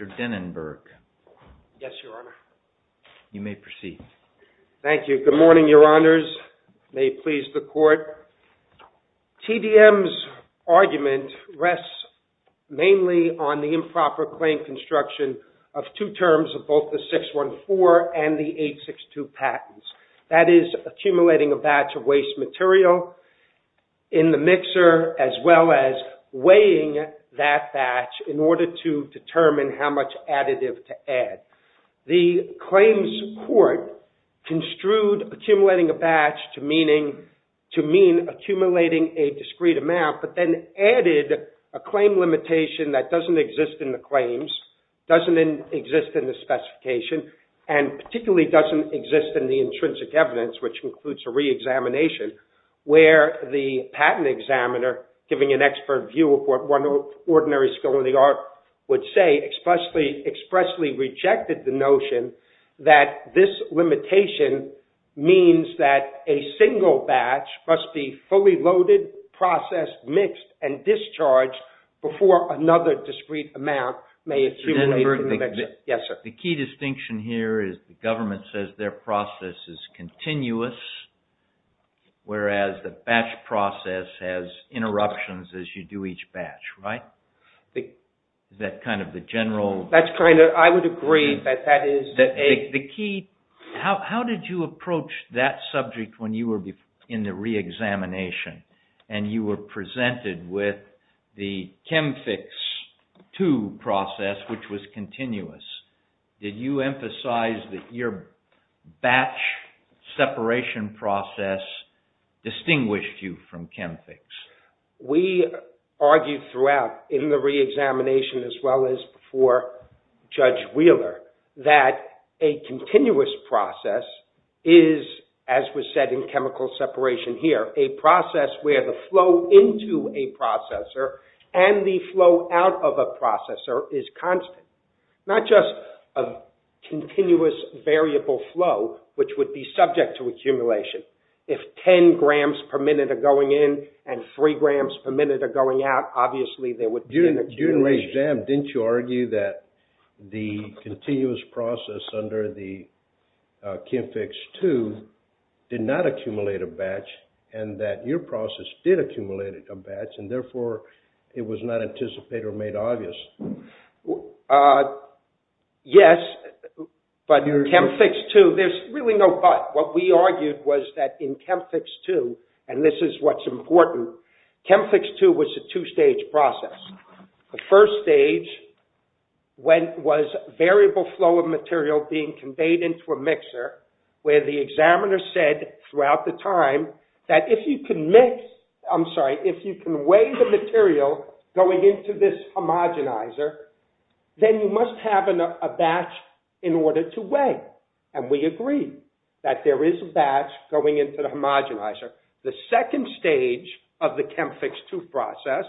Mr. Denenberg. Yes, Your Honor. You may proceed. Thank you. Good morning, Your Honors. May you please the court. TDM's argument rests mainly on the improper claim construction of two terms of both the 614 and the 862 patents. That is accumulating a batch of waste material in the mixer as well as weighing that batch in order to determine how much additive to mean accumulating a discrete amount, but then added a claim limitation that doesn't exist in the claims, doesn't exist in the specification, and particularly doesn't exist in the intrinsic evidence, which includes a re-examination, where the patent examiner, giving an expert view of what one ordinary skill in the art would say, expressly rejected the notion that this limitation means that a single batch must be fully loaded, processed, mixed, and discharged before another discrete amount may accumulate. Yes, sir. The key distinction here is the government says their process is continuous, whereas the batch process has interruptions as you do each batch, right? Is that kind of the general... That's kind of... I would agree that that is... The key... How did you approach that subject when you were in the re-examination and you were presented with the CHEMFIX II process, which was continuous? Did you emphasize that your batch separation process distinguished you from CHEMFIX? We argued throughout in the re-examination, as well as for Judge Wheeler, that a continuous process is, as was said in chemical separation here, a process where the flow into a processor and the flow out of a processor is constant, not just a continuous variable flow, which would be subject to accumulation. If 10 grams per minute are going in and 3 grams per minute are going out, obviously there would be an accumulation. During the re-exam, didn't you argue that the continuous process under the CHEMFIX II did not accumulate a batch and that your process did accumulate a batch and therefore it was not anticipated or made obvious? Yes, but CHEMFIX II... There's really no but. What we argued was that in CHEMFIX II, and this is what's important, CHEMFIX II was a two-stage process. The first stage was variable flow of material being conveyed into a mixer, where the examiner said throughout the time that if you can mix... I'm sorry, if you can weigh the material going into this homogenized then you must have a batch in order to weigh. And we agreed that there is a batch going into the homogenizer. The second stage of the CHEMFIX II process,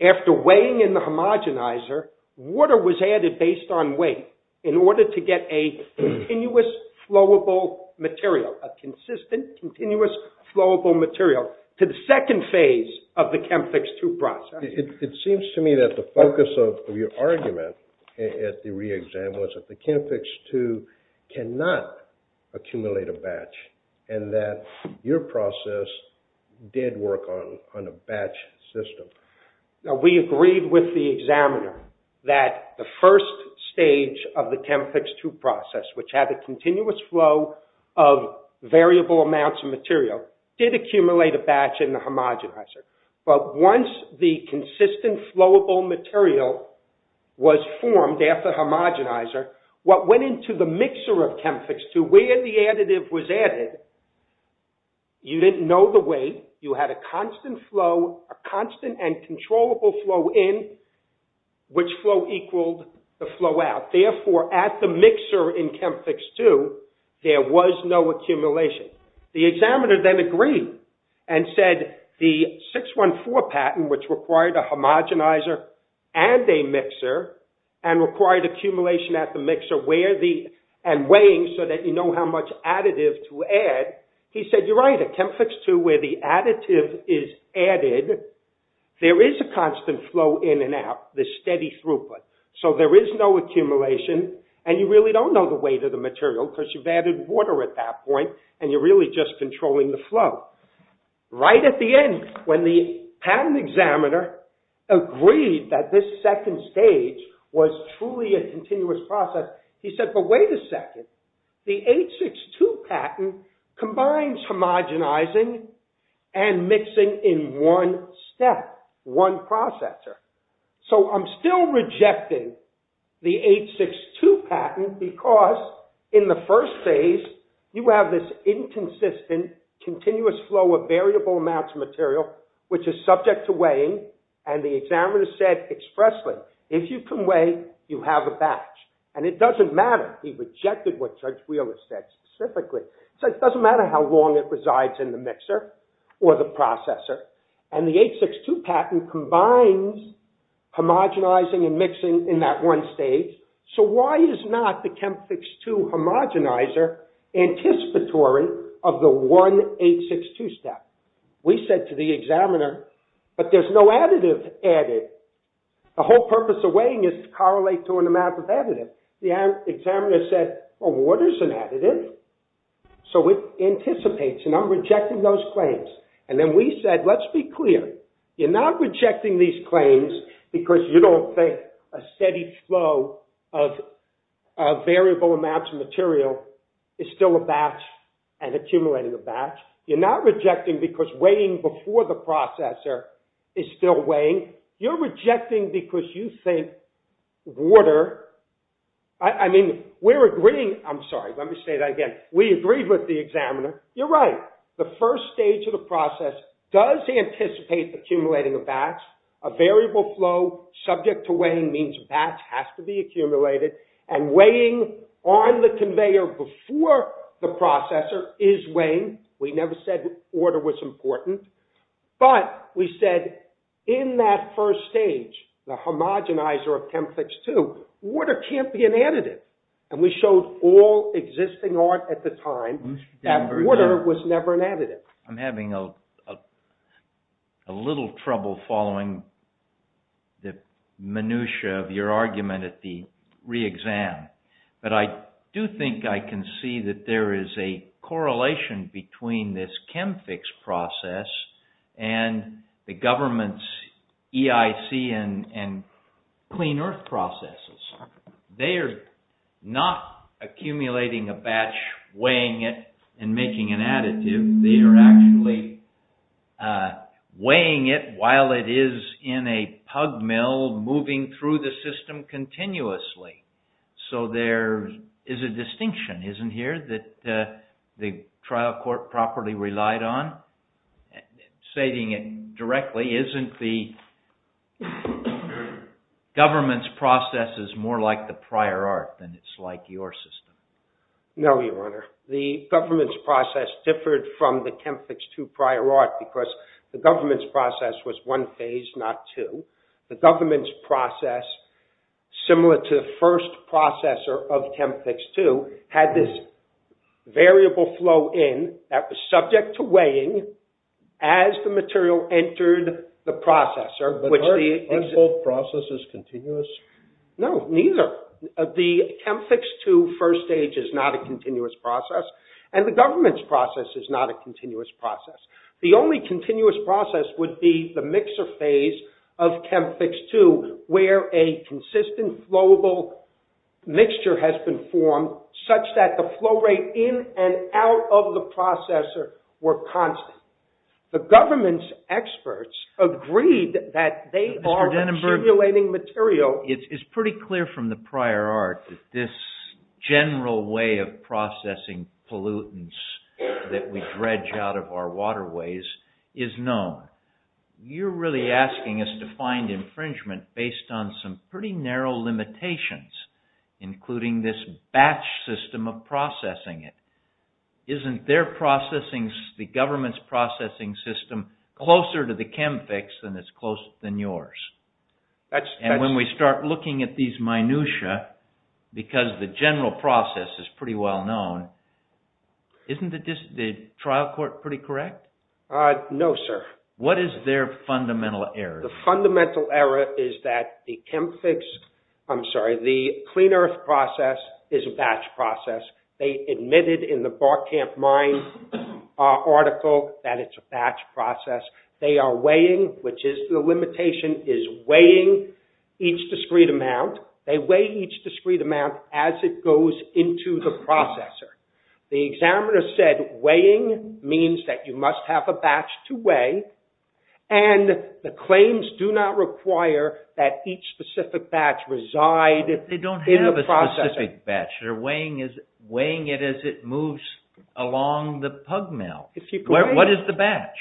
after weighing in the homogenizer, water was added based on weight in order to get a continuous flowable material, a consistent continuous flowable material to the second phase of the CHEMFIX II process. It seems to me that the argument at the re-exam was that the CHEMFIX II cannot accumulate a batch and that your process did work on a batch system. We agreed with the examiner that the first stage of the CHEMFIX II process, which had a continuous flow of variable amounts of material, did accumulate a batch in the CHEMFIX II process. The second stage of the CHEMFIX II process, after weighing in the homogenizer, what went into the mixer of CHEMFIX II, where the additive was added, you didn't know the weight. You had a constant flow, a constant and controllable flow in, which flow equaled the flow out. Therefore, at the mixer in CHEMFIX II, there was no accumulation. The examiner then agreed and said the 614 patent, which required a homogenizer and a mixer and required accumulation at the mixer and weighing so that you know how much additive to add, he said, you're right. At CHEMFIX II, where the additive is added, there is a constant flow in and out, the steady throughput. So there is no accumulation and you really don't know the weight of the material because you've added water at that point and you're really just controlling the flow. Right at the end, when the patent examiner agreed that this second stage was truly a continuous process, he said, but wait a second, the 862 patent combines homogenizing and mixing in one step, one processor. So I'm still rejecting the 862 patent because in the first phase, you have this inconsistent, continuous flow of variable amounts of material, which is subject to weighing. And the examiner said expressly, if you can weigh, you have a batch. And it doesn't matter. He rejected what Judge Wheeler said specifically. So it doesn't matter how long it resides in the mixer or the one stage. So why is not the CHEMFIX II homogenizer anticipatory of the 1862 step? We said to the examiner, but there's no additive added. The whole purpose of weighing is to correlate to an amount of additive. The examiner said, well, water is an additive. So it anticipates and I'm rejecting those claims. And then we said, let's be clear, you're not rejecting these claims because you don't think a steady flow of variable amounts of material is still a batch and accumulating a batch. You're not rejecting because weighing before the processor is still weighing. You're rejecting because you think water, I mean, we're agreeing. I'm sorry, let me say that again. We agreed with the examiner. You're right. The first stage of the process does anticipate accumulating a batch. A variable flow subject to weighing means batch has to be accumulated and weighing on the conveyor before the processor is weighing. We never said order was important, but we said in that first stage, the homogenizer of CHEMFIX II, water can't be an additive. And we showed all existing art at the time that water was never an additive. I'm having a little trouble following the minutiae of your argument at the re-exam, but I do think I can see that there is a correlation between this CHEMFIX process and the government's EIC and clean earth processes. They are not accumulating a batch, weighing it and making an additive. They are actually weighing it while it is in a pug mill moving through the system continuously. So there is a distinction, isn't here, that the trial court properly relied on. Saving it directly, isn't the government's processes more like the prior art than it's like your system? No, your honor. The government's process differed from the CHEMFIX II prior art because the government's process was one phase, not two. The government's process, similar to the first processor of CHEMFIX II, had this variable flow in that was subject to weighing as the material entered the processor. But aren't both processes continuous? No, neither. The CHEMFIX II first stage is not a continuous process and the government's process is not a continuous process. The only continuous process would be the mixer phase of CHEMFIX II where a consistent flowable mixture has been formed such that the flow rate in and out of the processor were constant. The government's experts agreed that they are accumulating material... Mr. Denenberg, it's pretty clear from the prior art that this general way of processing pollutants that we dredge out of our waterways is known. You're really asking us to find infringement based on some pretty narrow limitations, including this batch system of processing it. Isn't their processing, the government's processing system, closer to the CHEMFIX than it's closer than yours? And when we start looking at these minutiae, because the general process is pretty well known, isn't the trial court pretty correct? No, sir. What is their fundamental error? The fundamental error is that the CHEMFIX, I'm sorry, the clean earth process is a batch process. They admitted in the Barkamp Mine article that it's a batch process. They are weighing, which is the limitation, is weighing each discrete amount. They weigh each discrete amount as it goes into the processor. The examiner said weighing means that you must have a batch to weigh and the claims do not require that each specific batch reside in the batch. They're weighing it as it moves along the pug mill. What is the batch?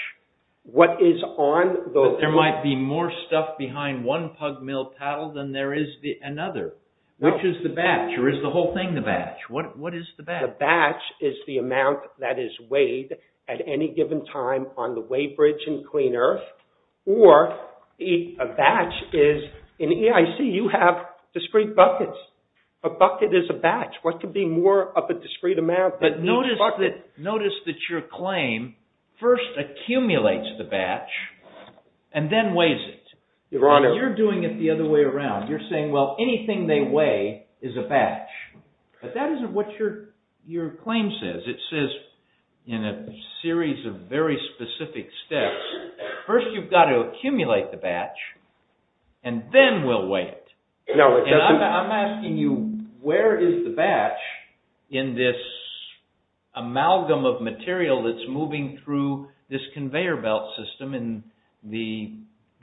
There might be more stuff behind one pug mill paddle than there is another. Which is the batch or is the whole thing the batch? What is the batch? The batch is the amount that is weighed at any given time on the batch. What could be more of a discrete amount? But notice that your claim first accumulates the batch and then weighs it. Your Honor. You're doing it the other way around. You're saying, well, anything they weigh is a batch. But that isn't what your claim says. It says in a series of very specific steps, first you've got to accumulate the batch and then we'll weigh it. And I'm asking you, where is the batch in this amalgam of material that's moving through this conveyor belt system in the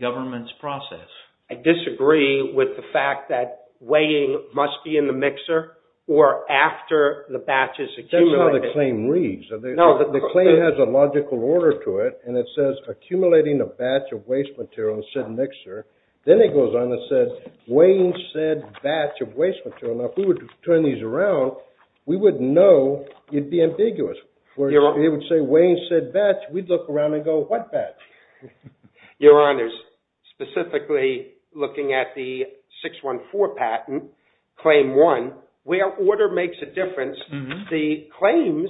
government's process? I disagree with the fact that weighing must be in the mixer or after the batch is accumulated. That's how the claim reads. The claim has a logical order to it and it says accumulating a batch of waste material in said mixer. Then it goes on and says weighing said batch of waste material. Now, if we were to turn these around, we wouldn't know. It'd be ambiguous. Where it would say weighing said batch, we'd look around and go, what batch? Your Honor, specifically looking at the 614 patent, claim one, where order makes a difference, the claims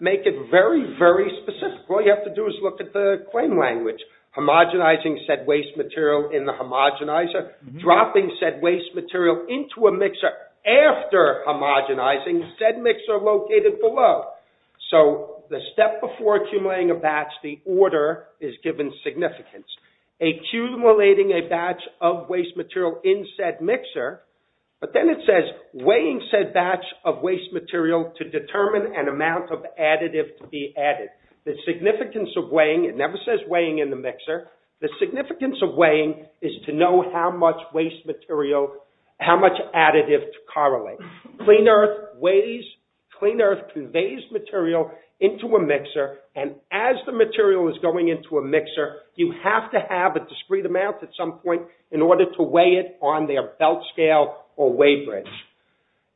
make it very, very specific. All you have to do is look at the claim language. Homogenizing said waste material in the homogenizer, dropping said waste material into a mixer after homogenizing said mixer located below. So the step before accumulating a batch, the order is given significance. Accumulating a batch of waste material in said mixer, but then it says weighing said batch of waste material to determine an amount of additive to be added. The significance of weighing, it never says weighing in the mixer. The significance of weighing is to know how much waste material, how much additive to correlate. Clean Earth weighs, Clean Earth conveys material into a mixer and as the material is going into a mixer, you have to have a discrete amount at some point in order to weigh it on their belt scale or weight range.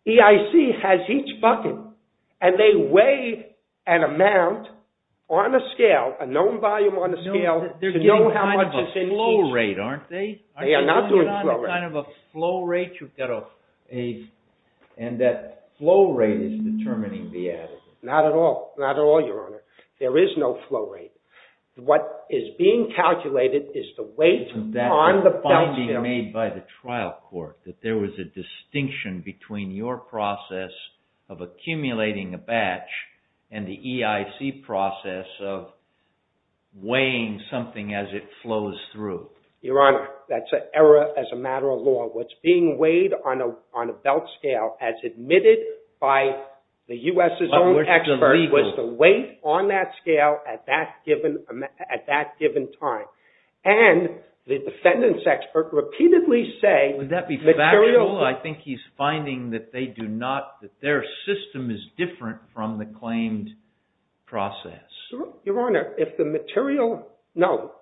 EIC has each bucket and they weigh an amount on a scale, a known volume on a scale to know how much is in each. They are not doing flow rate. And that flow rate is determining the additive. Not at all, not at all, your honor. There is no flow rate. What is being calculated is the weight on the belt scale. That finding made by the trial court, that there was a distinction between your process of accumulating a batch and the EIC process of weighing something as it flows through. Your honor, that's an error as a matter of law. What's being weighed on a belt scale as admitted by the U.S.'s own expert was the weight on that scale at that given time. And the defendant's Would that be factual? I think he's finding that they do not, that their system is different from the claimed process. Your honor, if the material, no,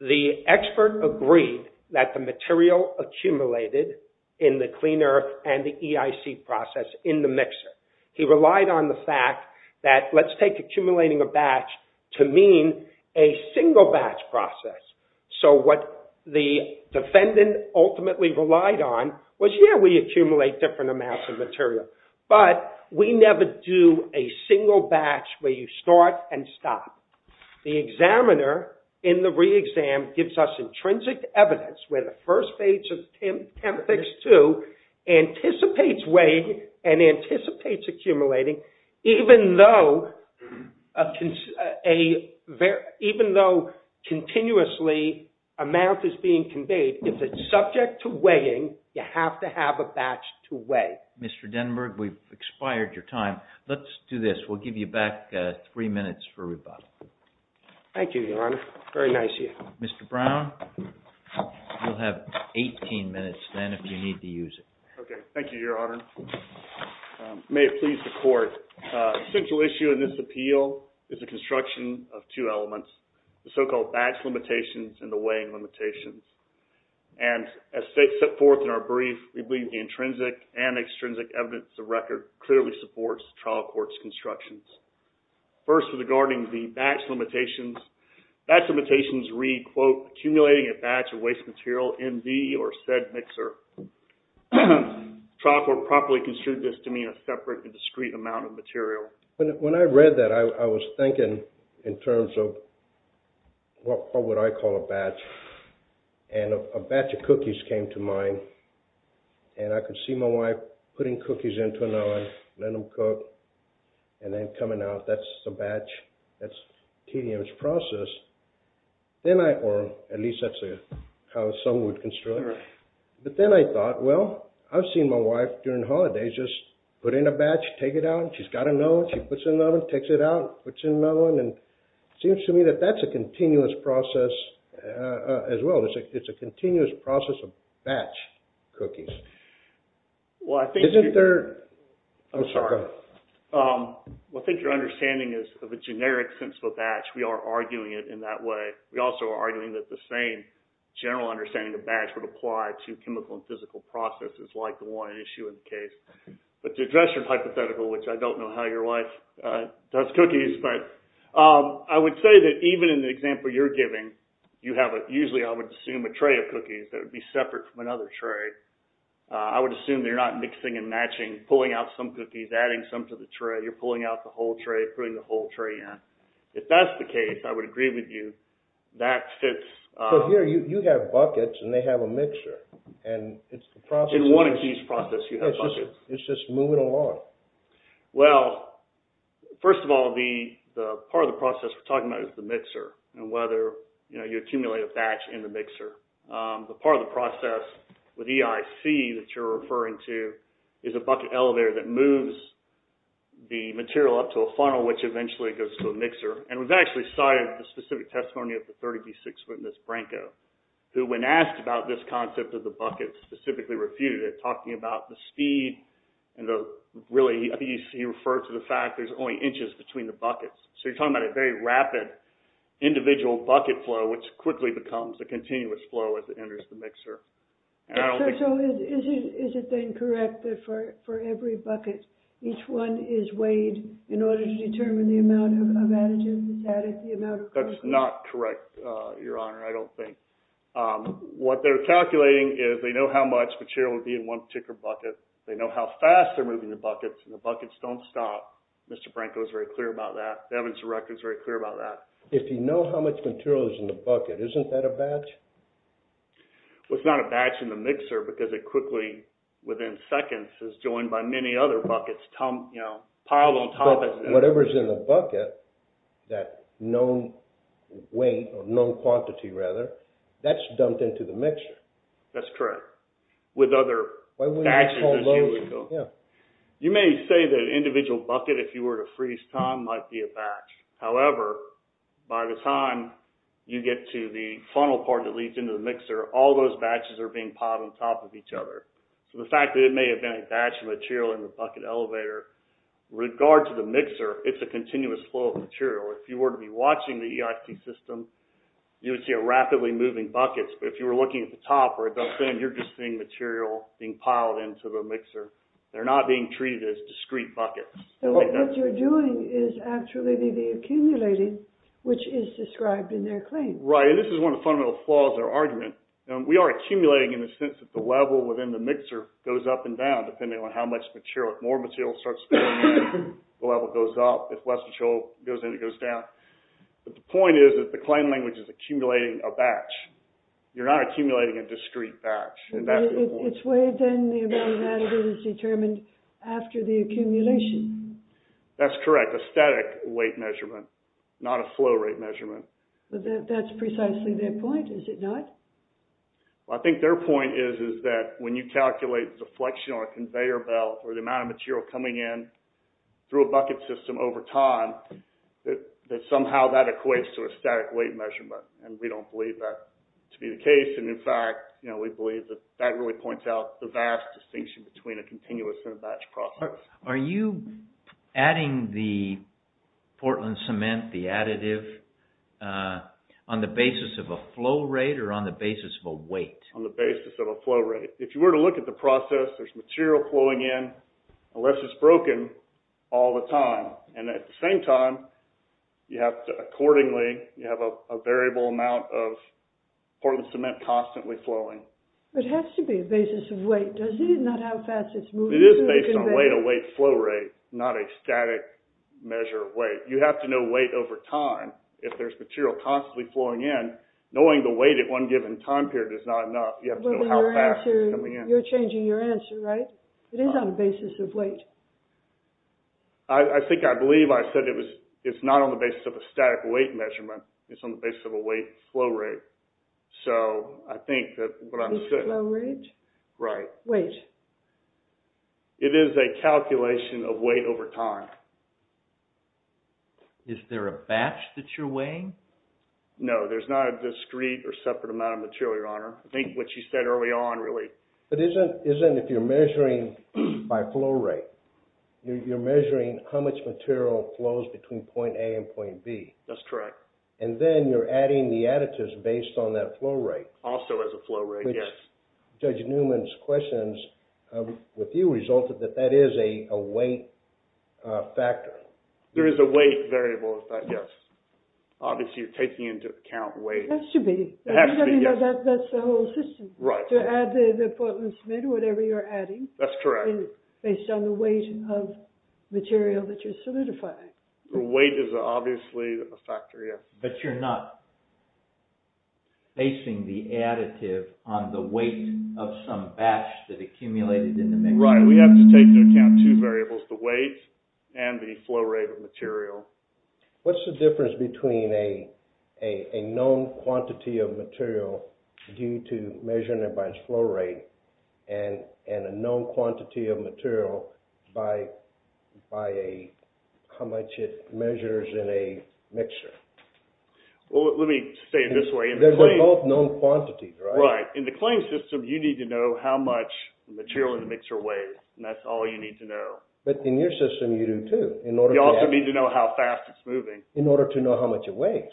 the expert agreed that the material accumulated in the Clean Earth and the EIC process in the mixer. He relied on the fact that let's take relied on was, yeah, we accumulate different amounts of material. But we never do a single batch where you start and stop. The examiner in the re-exam gives us intrinsic evidence where the first page of temp fix two anticipates weight and anticipates accumulating, even though continuously amount is being conveyed. If it's subject to weighing, you have to have a batch to weigh. Mr. Denberg, we've expired your time. Let's do this. We'll give you back three minutes for rebuttal. Thank you, your honor. Very nice of you. Mr. Brown, you'll have 18 minutes then if you need to use it. Okay. Thank you, your honor. May it please the court. A central issue in this appeal is the construction of two elements, the so-called batch limitations and the weighing limitations. And as set forth in our brief, we believe the intrinsic and extrinsic evidence of record clearly supports trial court's constructions. First, regarding the batch limitations, batch limitations read, quote, accumulating a batch of waste material in the or said mixer. Trial court properly construed this to mean a separate and discrete amount of material. When I read that, I was thinking in terms of what would I call a batch? And a batch of cookies came to mind. And I could see my wife putting cookies into an oven, let them cook, and then coming out, that's the batch, that's TDM's process. Then I, or at least that's how some would construct. But then I thought, well, I've seen my wife during holidays just put in a batch, take it out, and she's got to know it. She puts it in the oven, takes it out, puts it in the oven, and it seems to me that that's a continuous process as well. It's a continuous process of batch cookies. Well, I think your understanding is of a generic sense of a batch. We are arguing it in that way. We also are arguing that the same general understanding of batch would apply to which I don't know how your wife does cookies. But I would say that even in the example you're giving, you have a, usually I would assume a tray of cookies that would be separate from another tray. I would assume they're not mixing and matching, pulling out some cookies, adding some to the tray. You're pulling out the whole tray, putting the whole tray in. If that's the case, I would agree with you. That fits. So here you have buckets and they have a mixture. And it's the process. In one of these processes you have buckets. It's just moving along. Well, first of all, the part of the process we're talking about is the mixer and whether you accumulate a batch in the mixer. The part of the process with EIC that you're referring to is a bucket elevator that moves the material up to a funnel, which eventually goes to a mixer. And we've actually cited the specific testimony of the 30B6 witness, Branko, who when asked about this concept of the buckets specifically refuted it, talking about the speed and the really, he referred to the fact there's only inches between the buckets. So you're talking about a very rapid individual bucket flow, which quickly becomes a continuous flow as it enters the mixer. So is it then correct that for every bucket, each one is weighed in order to determine the amount of additives added? That's not correct, Your Honor, I don't think. What they're calculating is they know how much material would be in one particular bucket. They know how fast they're moving the buckets and the buckets don't stop. Mr. Branko is very clear about that. The evidence director is very clear about that. If you know how much material is in the bucket, isn't that a batch? Well, it's not a batch in the mixer because it quickly, within seconds, is joined by many other Whatever is in the bucket, that known weight or known quantity rather, that's dumped into the mixer. That's correct. With other batches. You may say that an individual bucket, if you were to freeze time, might be a batch. However, by the time you get to the funnel part that leads into the mixer, all those batches are being piled on top of each other. So the fact that it may have been a batch of material in the bucket elevator, with regard to the mixer, it's a continuous flow of material. If you were to be watching the EIC system, you would see a rapidly moving bucket. But if you were looking at the top where it dumps in, you're just seeing material being piled into the mixer. They're not being treated as discrete buckets. What you're doing is actually the accumulating, which is described in their claim. Right, and this is one of the fundamental flaws of their argument. We are accumulating in the sense that the level within the mixer goes up and down depending on how much material, more material starts to go in, the level goes up. If less material goes in, it goes down. But the point is that the claim language is accumulating a batch. You're not accumulating a discrete batch. It's weighed, then the amount of additive is determined after the accumulation. That's correct. A static weight measurement, not a flow rate measurement. That's precisely their point, is it not? I think their point is that when you calculate the flexion on a conveyor belt, or the amount of material coming in through a bucket system over time, that somehow that equates to a static weight measurement. We don't believe that to be the case. In fact, we believe that that really points out the vast distinction between a continuous and a batch process. Are you adding the Portland cement, the additive, on the basis of a flow rate, or on the basis of a weight? On the basis of a flow rate. If you were to look at the process, there's material flowing in, unless it's broken, all the time. And at the same time, you have to accordingly, you have a variable amount of Portland cement constantly flowing. It has to be a basis of weight, doesn't it? Not how fast it's moving through the conveyor. It is based on weight, a weight flow rate, not a static measure of weight. You have to know weight over time. If there's material constantly flowing in, knowing the weight at one given time period is not enough. You have to know how fast it's coming in. You're changing your answer, right? It is on the basis of weight. I think I believe I said it's not on the basis of a static weight measurement, it's on the basis of a weight flow rate. So, I think that's what I'm saying. Flow rate? Right. Weight? It is a calculation of weight over time. Is there a batch that you're weighing? No, there's not a discrete or separate amount of material, your honor. I think what you said early on, really. It isn't if you're measuring by flow rate. You're measuring how much material flows between point A and point B. That's correct. And then you're adding the additives based on that flow rate. Also as a flow rate, yes. Judge Newman's questions with you resulted that that is a weight factor. There is a weight variable with that, yes. Obviously, you're taking into account weight. It has to be. That's the whole system. Right. To add the Portland Smith, whatever you're adding. That's correct. Based on the weight of material that you're solidifying. Weight is obviously a factor, yes. But you're not basing the additive on the weight of some batch that accumulated in the mixture. Right. We have to take into account two variables, the weight and the flow rate of material. What's the difference between a known quantity of material due to measuring it by its flow rate and a known quantity of material by how much it measures in a mixture? Well, let me say it this way. They're both known quantities, right? Right. In the claim system, you need to know how much material in the mixture weighs. And that's all you need to know. But in your system, you do too. You also need to know how fast it's moving. In order to know how much it weighs.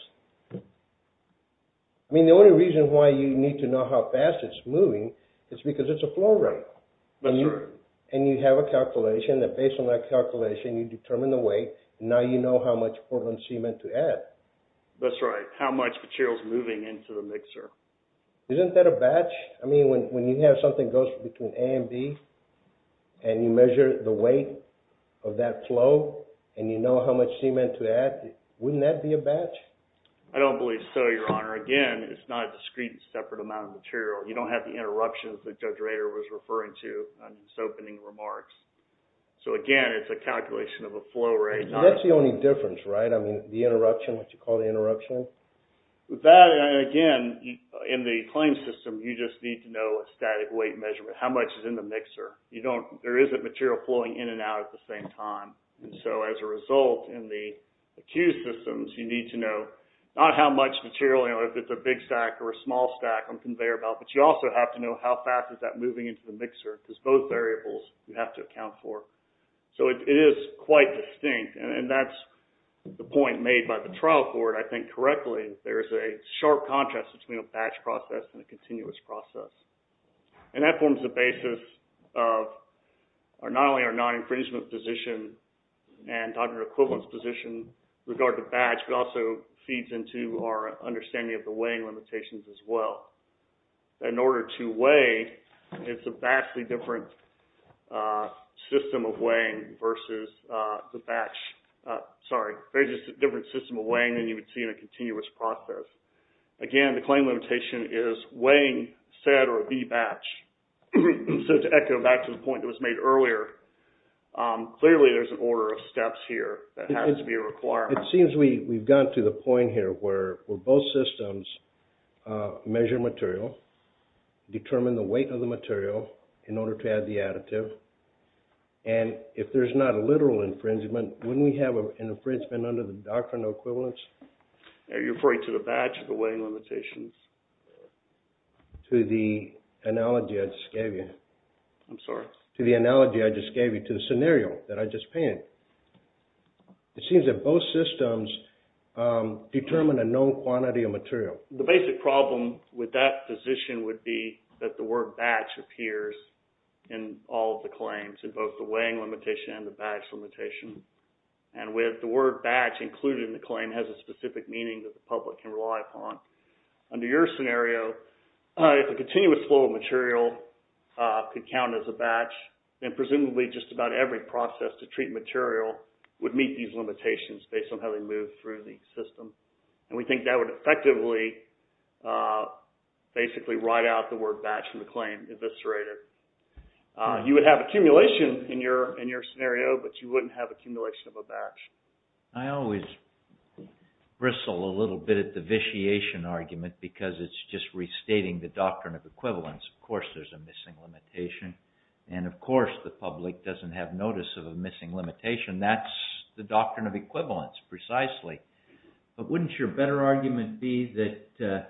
I mean, the only reason why you need to know how fast it's moving is because it's a flow rate. That's right. And you have a calculation that based on that calculation, you determine the weight. Now you know how much Portland cement to add. That's right. How much material is moving into the mixer. Isn't that a batch? I mean, when you have something that goes between A and B, and you measure the weight of that flow, and you know how much cement to add, wouldn't that be a batch? I don't believe so, Your Honor. Again, it's not a discrete, separate amount of material. You don't have the interruptions that Judge Rader was referring to in his opening remarks. So again, it's a calculation of a flow rate. That's the only difference, right? I mean, the interruption, what you call the interruption. That, again, in the claim system, you just need to know a static weight measurement. How much is in the mixer? There isn't material flowing in and out at the same time. And so as a result, in the accused systems, you need to know not how much material, if it's a big stack or a small stack on conveyor belt, but you also have to know how fast is that moving into the mixer. Because both variables you have to account for. So it is quite distinct, and that's the point made by the trial court, I think, correctly. There is a sharp contrast between a batch process and a continuous process. And that forms the basis of not only our non-infringement position and our equivalence position with regard to batch, but also feeds into our understanding of the weighing limitations as well. In order to weigh, it's a vastly different system of weighing versus the batch. Sorry, there's just a different system of weighing than you would see in a continuous process. Again, the claim limitation is weighing said or the batch. So to echo back to the point that was made earlier, clearly there's an order of steps here that has to be required. It seems we've gotten to the point here where both systems measure material, determine the weight of the material in order to add the additive. And if there's not a literal infringement, wouldn't we have an infringement under the doctrine of equivalence? Are you referring to the batch or the weighing limitations? To the analogy I just gave you. I'm sorry? To the analogy I just gave you, to the scenario that I just painted. It seems that both systems determine a known quantity of material. The basic problem with that position would be that the word batch appears in all of the claims, in both the weighing limitation and the batch limitation. And with the word batch included in the claim has a specific meaning that the public can rely upon. Under your scenario, if a continuous flow of material could count as a batch, then presumably just about every process to treat material would meet these limitations based on how they move through the system. And we think that would effectively basically write out the word batch in the claim eviscerated. You would have accumulation in your scenario, but you wouldn't have accumulation of a batch. I always bristle a little bit at the vitiation argument because it's just restating the doctrine of equivalence. Of course there's a missing limitation. And of course the public doesn't have notice of a missing limitation. That's the doctrine of equivalence precisely. But wouldn't your better argument be that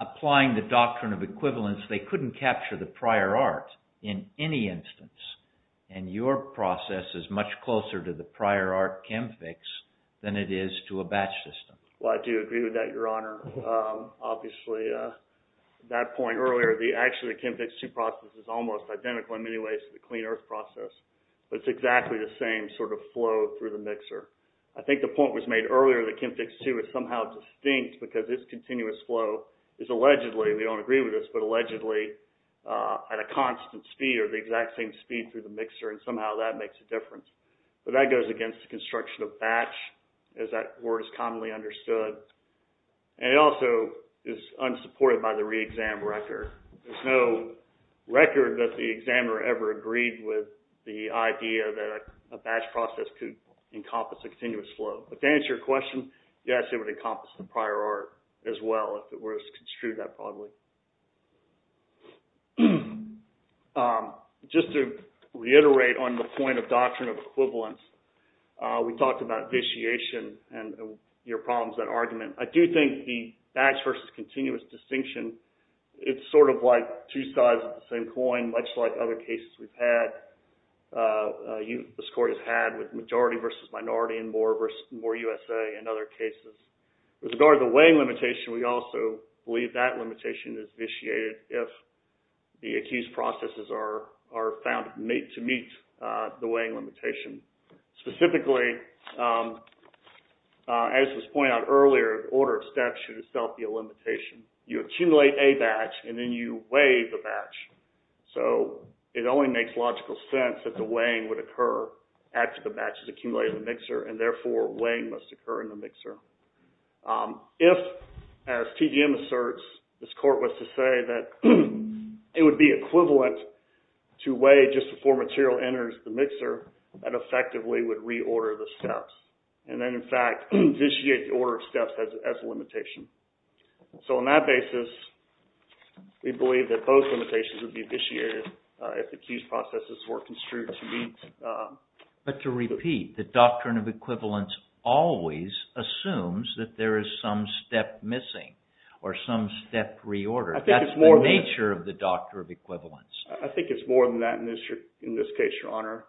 applying the doctrine of equivalence, they couldn't capture the prior art in any instance. And your process is much closer to the prior art chem fix than it is to a batch system. Well, I do agree with that, your honor. Obviously, that point earlier, actually the chem fix two process is almost identical in many ways to the clean earth process. But it's exactly the same sort of flow through the mixer. I think the point was made earlier that chem fix two is somehow distinct because this continuous flow is allegedly, we don't agree with this, but allegedly at a constant speed or the exact same speed through the mixer. And somehow that makes a difference. But that goes against the construction of batch as that word is commonly understood. And it also is unsupported by the re-exam record. There's no record that the examiner ever agreed with the idea that a batch process could encompass a continuous flow. But to answer your question, yes, it would encompass the prior art as well if it was construed that probably. Just to reiterate on the point of doctrine of equivalence, we talked about vitiation and your problems with that argument. I do think the batch versus continuous distinction, it's sort of like two sides of the same coin, much like other cases we've had. This court has had with majority versus minority and more USA in other cases. With regard to the weighing limitation, we also believe that limitation is vitiated if the accused processes are found to meet the weighing limitation. Specifically, as was pointed out earlier, order of steps should itself be a limitation. You accumulate a batch and then you weigh the batch. So it only makes logical sense that the weighing would occur after the batch is accumulated in the mixer and therefore weighing must occur in the mixer. If, as TGM asserts, this court was to say that it would be equivalent to weigh just before material enters the mixer, that effectively would reorder the steps. And then, in fact, vitiate the order of steps as a limitation. So on that basis, we believe that both limitations would be vitiated if the accused processes were construed to meet... But to repeat, the doctrine of equivalence always assumes that there is some step missing or some step reordered. That's the nature of the doctrine of equivalence. I think it's more than that in this case, Your Honor.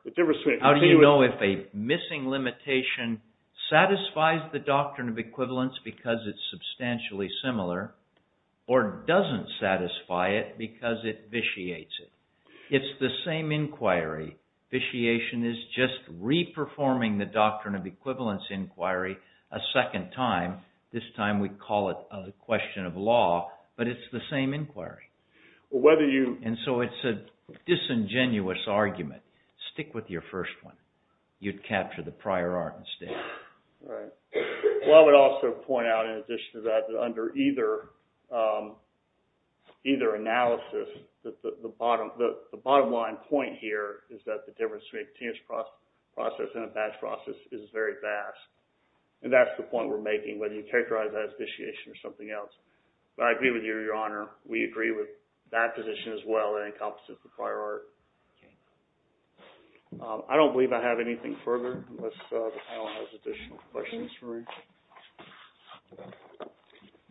How do you know if a missing limitation satisfies the doctrine of equivalence because it's substantially similar or doesn't satisfy it because it vitiates it? It's the same inquiry. Vitiation is just re-performing the doctrine of equivalence inquiry a second time. This time we call it a question of law, but it's the same inquiry. Or whether you... And so it's a disingenuous argument. Stick with your first one. You'd capture the prior art instead. Right. Well, I would also point out in addition to that, that under either analysis, the bottom line point here is that the difference between a continuous process and a batch process is very vast. And that's the point we're making, whether you characterize that as vitiation or something else. But I agree with you, Your Honor. We agree with that position as well that encompasses the prior art. I don't believe I have anything further unless the panel has additional questions for me.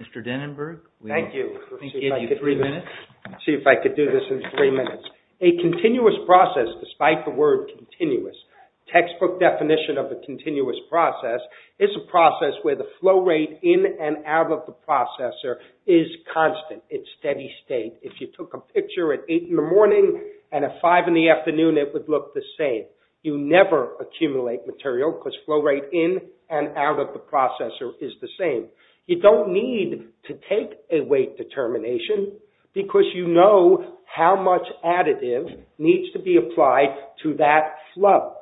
Mr. Dennenberg. Thank you. Can we give you three minutes? See if I could do this in three minutes. A continuous process, despite the word continuous, textbook definition of a continuous process is a process where the flow rate in and out of the processor is constant. It's steady state. If you took a picture at 8 in the morning and at 5 in the afternoon, it would look the same. You never accumulate material because flow rate in and out of the processor is the same. You don't need to take a weight determination because you know how much additive needs to be applied to that flow.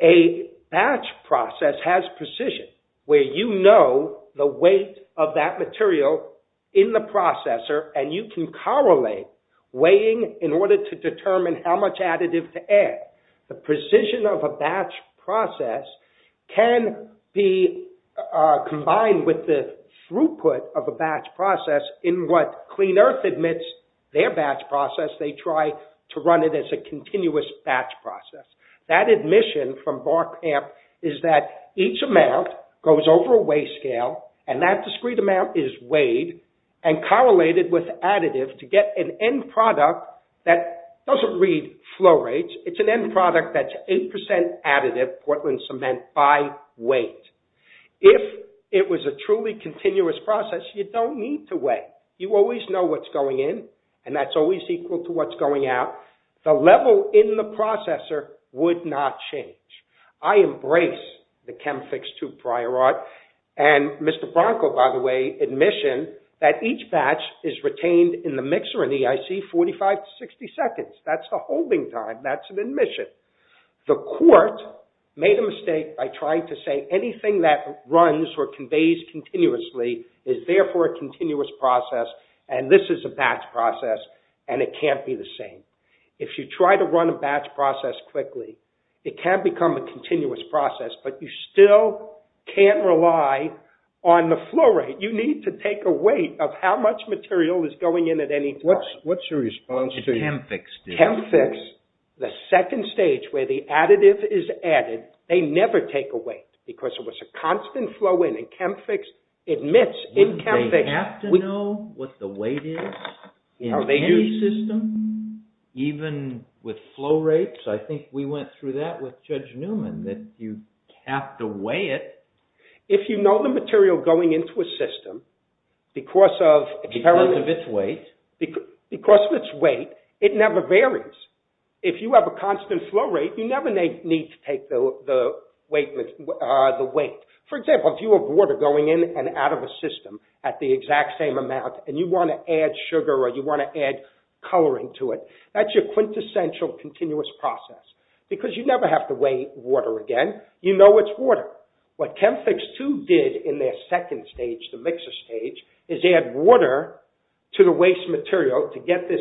A batch process has precision where you know the weight of that material in the processor and you can correlate weighing in order to determine how much additive to add. The precision of a batch process can be combined with the throughput of a batch process in what Clean Earth admits their batch process. They try to run it as a continuous batch process. That admission from Barkamp is that each amount goes over a weight scale and that discrete amount is weighed and correlated with additive to get an end product that doesn't read flow rates. It's an end product that's 8% additive Portland cement by weight. If it was a truly continuous process, you don't need to weigh. You always know what's going in and that's always equal to what's going out. The level in the processor would not change. I embrace the ChemFix II prior art and Mr. Bronco, by the way, admission that each batch is retained in the mixer in the EIC 45 to 60 seconds. That's the holding time. That's an admission. The court made a mistake by trying to say anything that runs or conveys continuously is therefore a continuous process and this is a batch process and it can't be the same. If you try to run a batch process quickly, it can become a continuous process, but you still can't rely on the flow rate. You need to take a weight of how much material is going in at any point. What's your response to ChemFix? ChemFix, the second stage where the additive is added, they never take a weight because it was a constant flow in and ChemFix admits... They have to know what the weight is in any system, even with flow rates. I think we went through that with Judge Newman that you have to weigh it. If you know the material going into a system because of its weight, it never varies. If you have a constant flow rate, you never need to take the weight. For example, if you have water going in and out of a system at the exact same amount and you want to add sugar or you want to add coloring to it, that's your quintessential continuous process because you never have to weigh water again. You know it's water. What ChemFix, too, did in their second stage, the mixer stage, is add water to the waste material to get this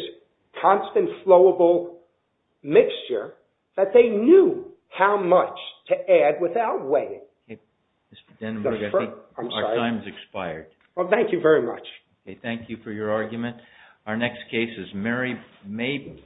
constant flowable mixture that they knew how much to add without weighing. Okay, Mr. Denenburg, I think our time has expired. Well, thank you very much. Okay, thank you for your argument. Our next case is Mary Mabin.